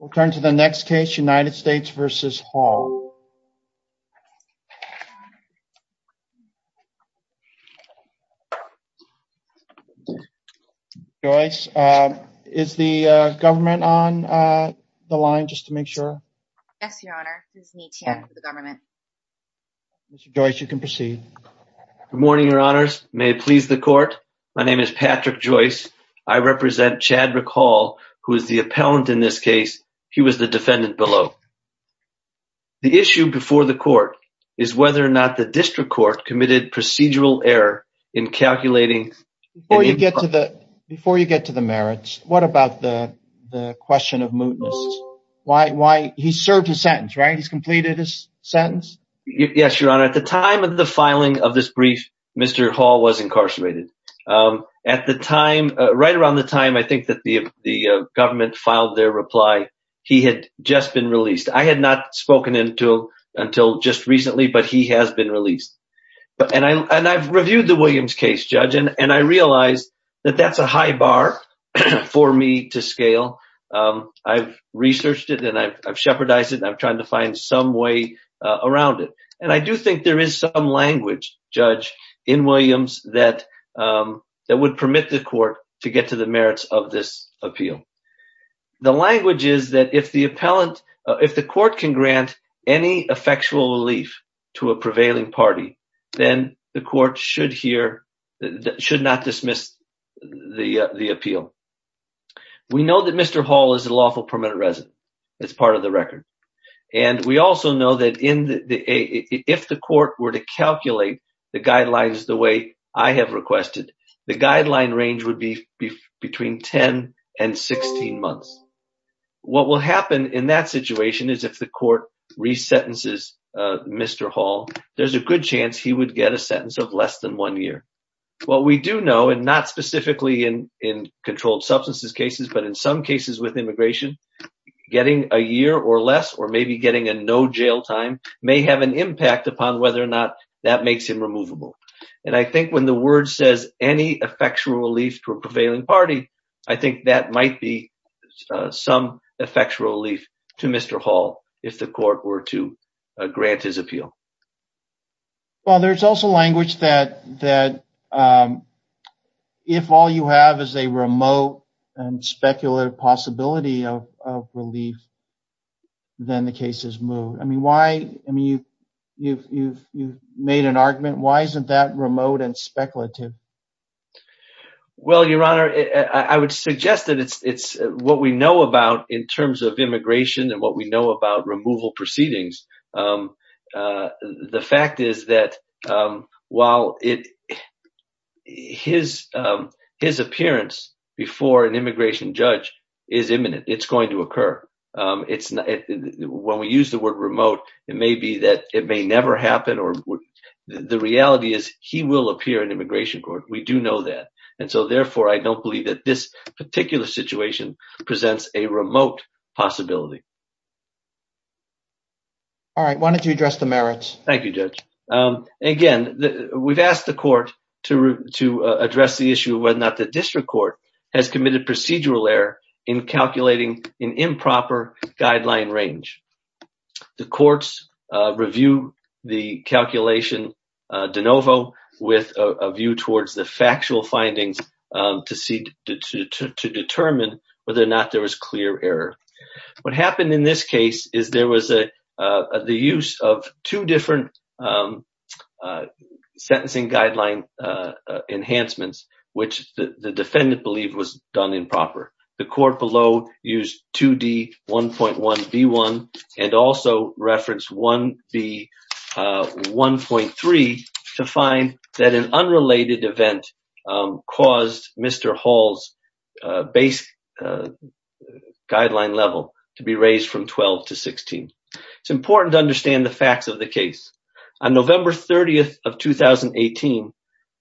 We'll turn to the next case, United States v. Hall. Joyce, is the government on the line, just to make sure? Yes, Your Honor, there's an ETM for the government. Mr. Joyce, you can proceed. Good morning, Your Honors. May it please the Court? My name is Patrick Joyce. I represent Chadrick Hall, who is the appellant in this case. He was the defendant below. The issue before the Court is whether or not the district court committed procedural error in calculating... Before you get to the merits, what about the question of mootness? He served his sentence, right? He's completed his sentence? Yes, Your Honor. At the time of the filing of this brief, Mr. Hall was incarcerated. Right around the time I think that the government filed their reply, he had just been released. I had not spoken to him until just recently, but he has been released. And I've reviewed the Williams case, Judge, and I realize that that's a high bar for me to scale. I've researched it, and I've shepherdized it, and I'm trying to find some way around it. And I do think there is some language, Judge, in Williams that would permit the Court to get to the merits of this appeal. The language is that if the appellant... if the Court can grant any effectual relief to a prevailing party, then the Court should hear... should not dismiss the appeal. We know that Mr. Hall is a lawful permanent resident. It's part of the record. And we also know that if the Court were to calculate the guidelines the way I have requested, the guideline range would be between 10 and 16 months. What will happen in that situation is if the Court resentences Mr. Hall, there's a good chance he would get a sentence of less than one year. What we do know, and not specifically in controlled substances cases, but in some cases with immigration, getting a year or less or maybe getting a no jail time may have an impact upon whether or not that makes him removable. And I think when the word says any effectual relief to a prevailing party, I think that might be some effectual relief to Mr. Hall if the Court were to grant his appeal. Well, there's also language that if all you have is a remote and speculative possibility of relief, then the case is moved. I mean, why? I mean, you've made an argument. Why isn't that remote and speculative? Well, Your Honor, I would suggest that it's what we know about in terms of immigration and what we know about removal proceedings. The fact is that while his appearance before an immigration judge is imminent, it's going to occur. When we use the word remote, it may be that it may never happen. The reality is he will appear in immigration court. We do know that. And so, therefore, I don't believe that this particular situation presents a remote possibility. All right. Why don't you address the merits? Thank you, Judge. Again, we've asked the court to address the issue of whether or not the district court has committed procedural error in calculating an improper guideline range. The courts review the calculation de novo with a view towards the factual findings to determine whether or not there was clear error. What happened in this case is there was the use of two different sentencing guideline enhancements, which the defendant believed was done improper. The court below used 2D1.1B1 and also referenced 1B1.3 to find that an unrelated event caused Mr. Hall's base guideline level to be raised from 12 to 16. It's important to understand the facts of the case. On November 30th of 2018,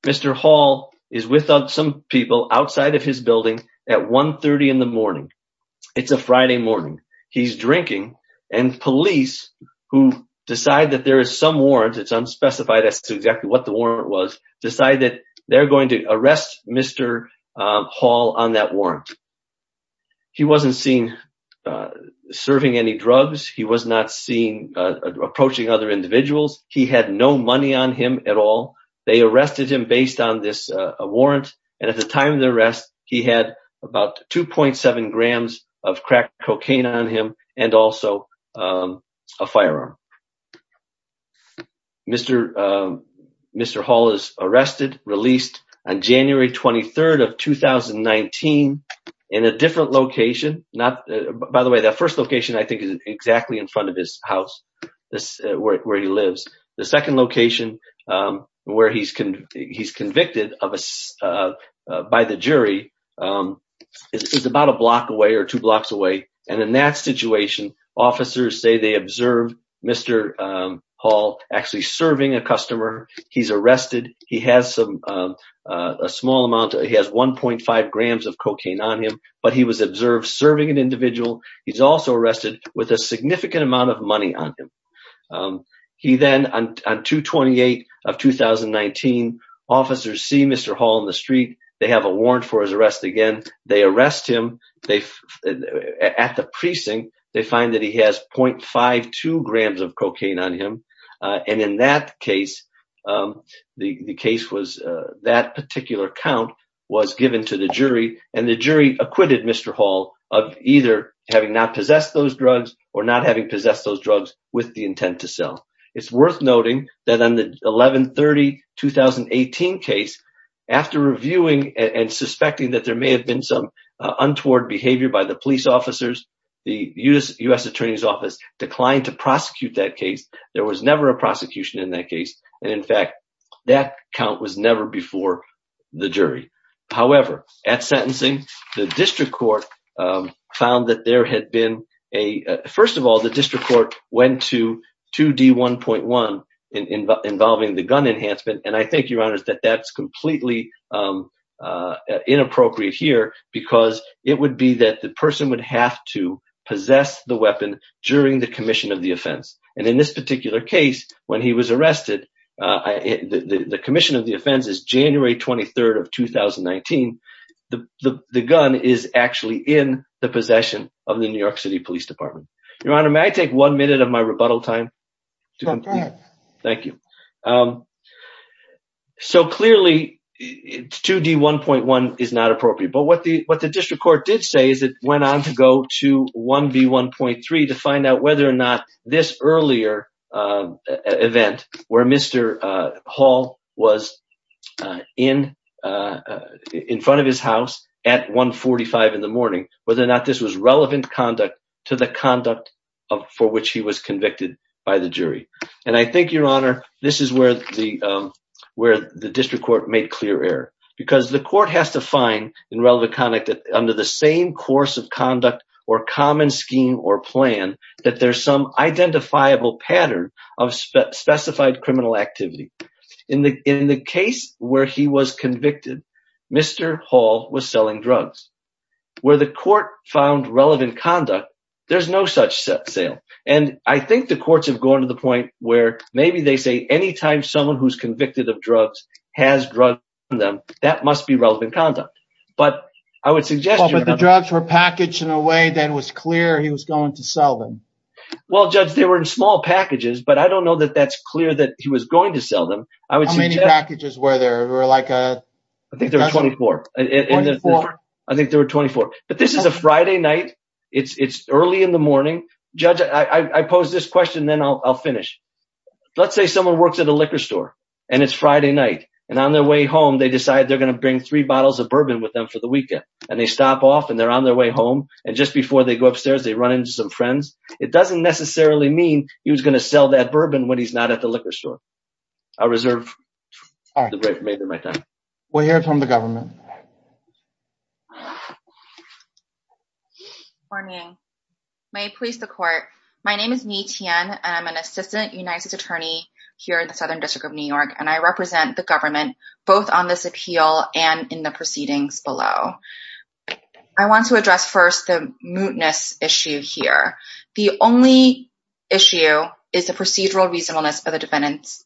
Mr. Hall is with some people outside of his building at 130 in the morning. It's a Friday morning. He's drinking and police who decide that there is some warrant, it's unspecified as to exactly what the warrant was, decide that they're going to arrest Mr. Hall on that warrant. He wasn't seen serving any drugs. He was not seen approaching other individuals. He had no money on him at all. They arrested him based on this warrant. And at the time of the arrest, he had about 2.7 grams of crack cocaine on him and also a firearm. Mr. Mr. Hall is arrested, released on January 23rd of 2019 in a different location. By the way, that first location I think is exactly in front of his house where he lives. The second location where he's convicted by the jury is about a block away or two blocks away. And in that situation, officers say they observed Mr. Hall actually serving a customer. He's arrested. He has a small amount. He has 1.5 grams of cocaine on him, but he was observed serving an individual. He's also arrested with a significant amount of money on him. He then, on 228 of 2019, officers see Mr. Hall in the street. They have a warrant for his arrest again. They arrest him. At the precinct, they find that he has 0.52 grams of cocaine on him. And in that case, the case was that particular count was given to the jury and the jury acquitted Mr. Hall of either having not possessed those drugs or not having possessed those drugs with the intent to sell. It's worth noting that on the 11-30-2018 case, after reviewing and suspecting that there may have been some untoward behavior by the police officers, the U.S. Attorney's Office declined to prosecute that case. There was never a prosecution in that case. And in fact, that count was never before the jury. However, at sentencing, the district court found that there had been a, first of all, the district court went to 2D1.1 involving the gun enhancement. And I think, Your Honors, that that's completely inappropriate here because it would be that the person would have to possess the weapon during the commission of the offense. And in this particular case, when he was arrested, the commission of the offense is January 23rd of 2019. The gun is actually in the possession of the New York City Police Department. Your Honor, may I take one minute of my rebuttal time? Go ahead. Thank you. So clearly, 2D1.1 is not appropriate. But what the district court did say is it went on to go to 1B1.3 to find out whether or not this earlier event where Mr. Hall was in front of his house at 145 in the morning, whether or not this was relevant conduct to the conduct for which he was convicted by the jury. And I think, Your Honor, this is where the district court made clear error. Because the court has to find in relevant conduct under the same course of conduct or common scheme or plan that there's some identifiable pattern of specified criminal activity. In the case where he was convicted, Mr. Hall was selling drugs. Where the court found relevant conduct, there's no such sale. And I think the courts have gone to the point where maybe they say any time someone who's convicted of drugs has drugged them, that must be relevant conduct. But I would suggest the drugs were packaged in a way that was clear. He was going to sell them. Well, judge, they were in small packages, but I don't know that that's clear that he was going to sell them. I would say many packages where there were like, I think, 24. I think there were 24. But this is a Friday night. It's early in the morning. Judge, I pose this question, then I'll finish. Let's say someone works at a liquor store. And it's Friday night. And on their way home, they decide they're going to bring three bottles of bourbon with them for the weekend. And they stop off and they're on their way home. And just before they go upstairs, they run into some friends. It doesn't necessarily mean he was going to sell that bourbon when he's not at the liquor store. I'll reserve the break for my time. We'll hear from the government. Morning. May it please the court. My name is Ni Tian. I'm an assistant United States attorney here in the Southern District of New York. And I represent the government, both on this appeal and in the proceedings below. I want to address first the mootness issue here. The only issue is the procedural reasonableness of the defendant's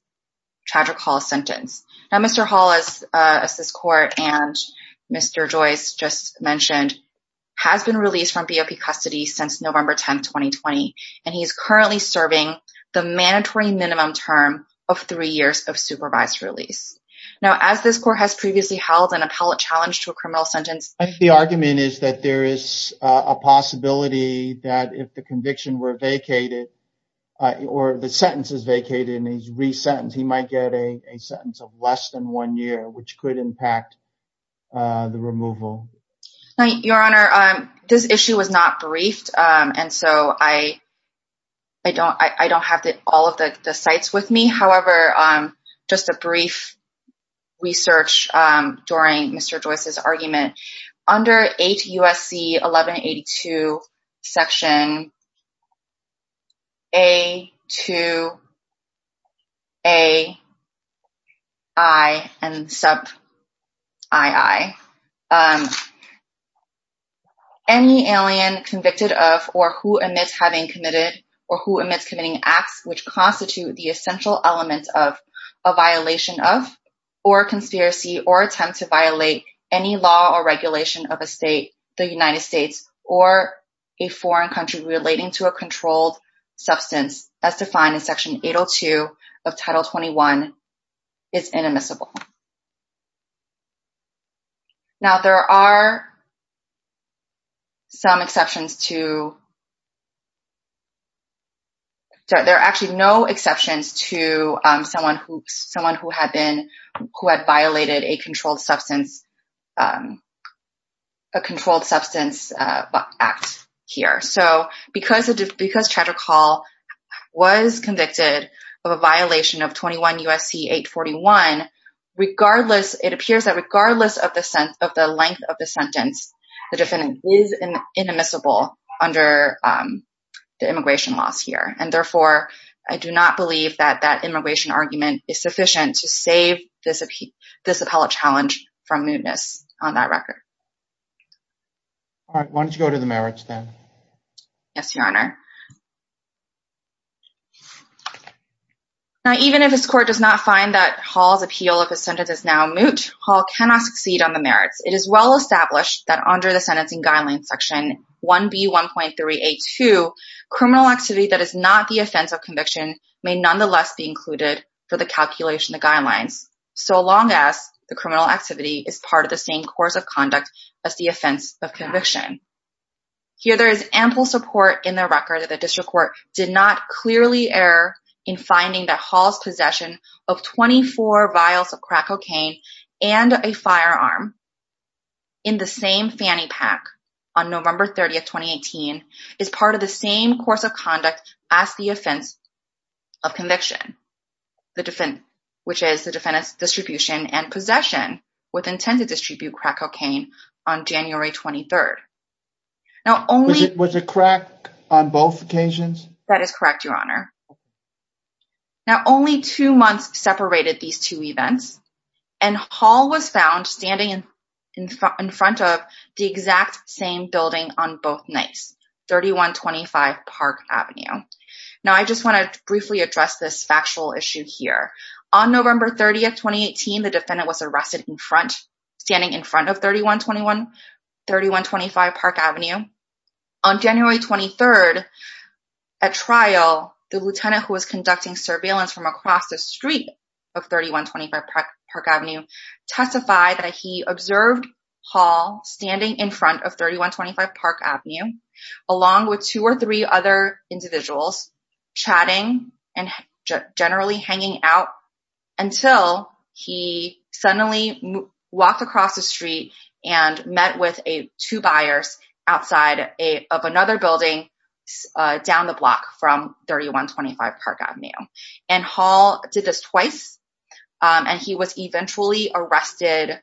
tragic Hall sentence. Now, Mr. Hall, as this court and Mr. Joyce just mentioned, has been released from BOP custody since November 10th, 2020. And he is currently serving the mandatory minimum term of three years of supervised release. Now, as this court has previously held an appellate challenge to a criminal sentence. The argument is that there is a possibility that if the conviction were vacated or the sentence is vacated and he's re-sentenced, he might get a sentence of less than one year, which could impact the removal. Your Honor, this issue was not briefed. And so I don't I don't have all of the sites with me. However, just a brief research during Mr. Joyce's argument under 8 U.S.C. 1182 section. A to. A. I and sub. I. Any alien convicted of or who admits having committed or who admits committing acts which constitute the essential element of a violation of or conspiracy or attempt to violate any law or regulation of a state, the United States, or a foreign country relating to a controlled substance as defined in Section 802 of Title 21 is inadmissible. Now, there are. Some exceptions to. There are actually no exceptions to someone who someone who had been who had violated a controlled substance. A controlled substance act here. So because it's because Chattercall was convicted of a violation of 21 U.S.C. 841, regardless, it appears that regardless of the sense of the length of the sentence, the defendant is inadmissible under the immigration laws here. And therefore, I do not believe that that immigration argument is sufficient to save this this appellate challenge from mootness on that record. Why don't you go to the marriage then? Yes, Your Honor. Now, even if this court does not find that Hall's appeal of a sentence is now moot, Hall cannot succeed on the merits. It is well established that under the sentencing guidelines, Section 1B, 1.382 criminal activity that is not the offense of conviction may nonetheless be included for the calculation of the guidelines. So long as the criminal activity is part of the same course of conduct as the offense of conviction. Here, there is ample support in the record that the district court did not clearly err in finding that Hall's possession of 24 vials of crack cocaine and a firearm in the same fanny pack on November 30th, 2018 is part of the same course of conduct as the offense of conviction. Which is the defendant's distribution and possession with intent to distribute crack cocaine on January 23rd. Was it crack on both occasions? That is correct, Your Honor. Now, only two months separated these two events and Hall was found standing in front of the exact same building on both nights, 3125 Park Avenue. Now, I just want to briefly address this factual issue here. On November 30th, 2018, the defendant was arrested in front, standing in front of 3125 Park Avenue. On January 23rd, at trial, the lieutenant who was conducting surveillance from across the street of 3125 Park Avenue testified that he observed Hall standing in front of 3125 Park Avenue. Along with two or three other individuals chatting and generally hanging out until he suddenly walked across the street and met with a two buyers outside of another building down the block from 3125 Park Avenue and Hall did this twice. And he was eventually arrested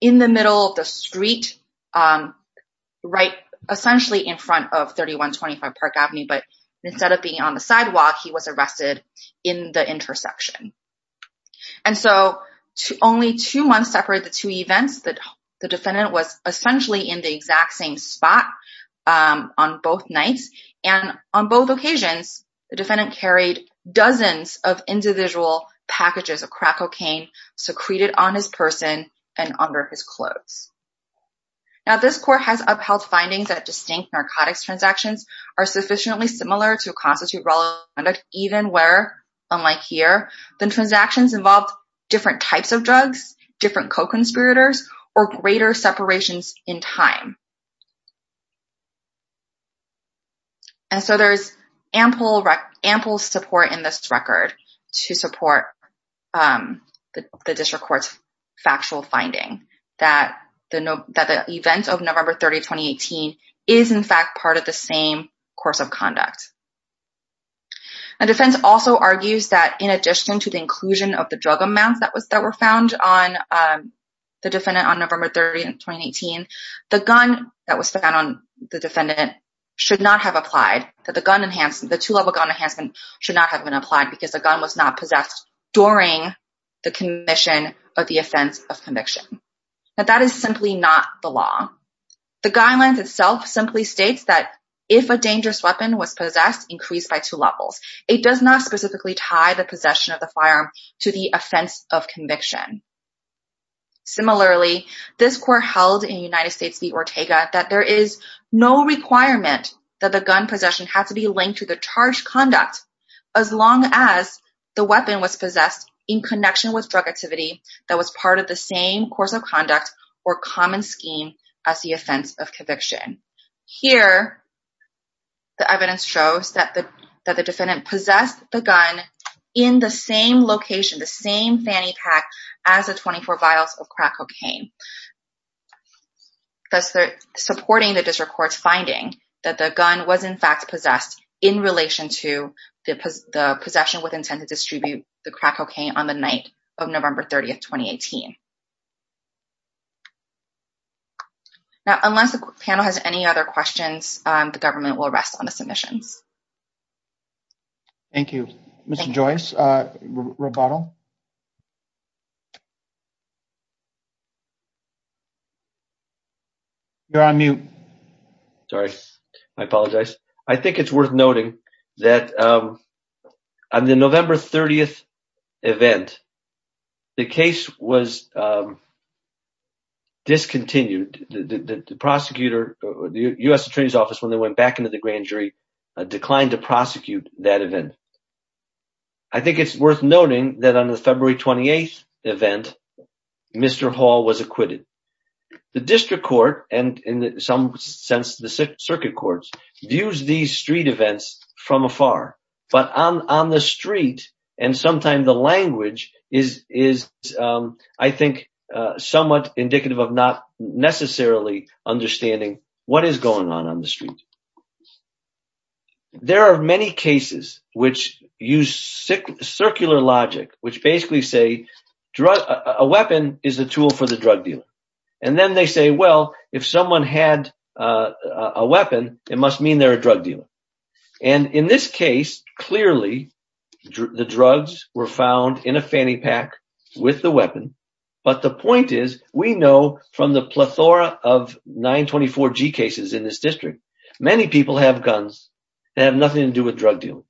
in the middle of the street, right? Essentially in front of 3125 Park Avenue, but instead of being on the sidewalk, he was arrested in the intersection. And so only two months separate the two events that the defendant was essentially in the exact same spot on both nights. And on both occasions, the defendant carried dozens of individual packages of crack cocaine secreted on his person and under his clothes. Now, this court has upheld findings that distinct narcotics transactions are sufficiently similar to constitute relevant, even where, unlike here, the transactions involved different types of drugs, different co-conspirators, or greater separations in time. And so there's ample support in this record to support the district court's factual finding that the event of November 30, 2018 is in fact part of the same course of conduct. And defense also argues that in addition to the inclusion of the drug amounts that were found on the defendant on November 30, 2018, the gun that was found on the defendant should not have applied, that the gun enhanced, the two-level gun enhancement should not have been applied because the gun was not possessed during the commission of the offense of conviction. But that is simply not the law. The guidelines itself simply states that if a dangerous weapon was possessed, increased by two levels. It does not specifically tie the possession of the firearm to the offense of conviction. Similarly, this court held in United States v. Ortega that there is no requirement that the gun possession has to be linked to the charge conduct as long as the weapon was possessed in connection with drug activity that was part of the same course of conduct or common scheme as the offense of conviction. Here, the evidence shows that the defendant possessed the gun in the same location, the same fanny pack as the 24 vials of crack cocaine. Thus, they're supporting the district court's finding that the gun was in fact possessed in relation to the possession with intent to distribute the crack cocaine on the night of November 30, 2018. Now, unless the panel has any other questions, the government will rest on the submissions. Thank you. Mr. Joyce, Roboto. You're on mute. Sorry. I apologize. I think it's worth noting that on the November 30 event, the case was discontinued. The prosecutor, the U.S. Attorney's Office, when they went back into the grand jury, declined to prosecute that event. I think it's worth noting that on the February 28 event, Mr. Hall was acquitted. The district court, and in some sense, the circuit courts, views these street events from afar. But on the street, and sometimes the language is, I think, somewhat indicative of not necessarily understanding what is going on on the street. There are many cases which use circular logic, which basically say a weapon is a tool for the drug dealer. And then they say, well, if someone had a weapon, it must mean they're a drug dealer. And in this case, clearly, the drugs were found in a fanny pack with the weapon. But the point is, we know from the plethora of 924G cases in this district, many people have guns that have nothing to do with drug dealing.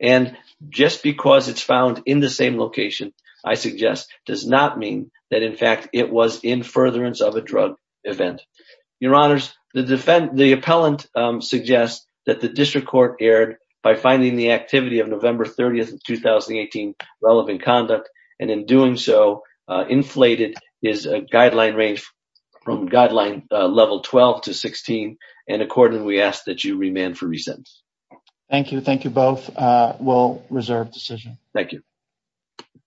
And just because it's found in the same location, I suggest, does not mean that, in fact, it was in furtherance of a drug event. Your Honors, the defendant, the appellant, suggests that the district court erred by finding the activity of November 30th, 2018, relevant conduct. And in doing so, inflated is a guideline range from guideline level 12 to 16. And accordingly, we ask that you remand for resentence. Thank you. Thank you both. We'll reserve decision. Thank you.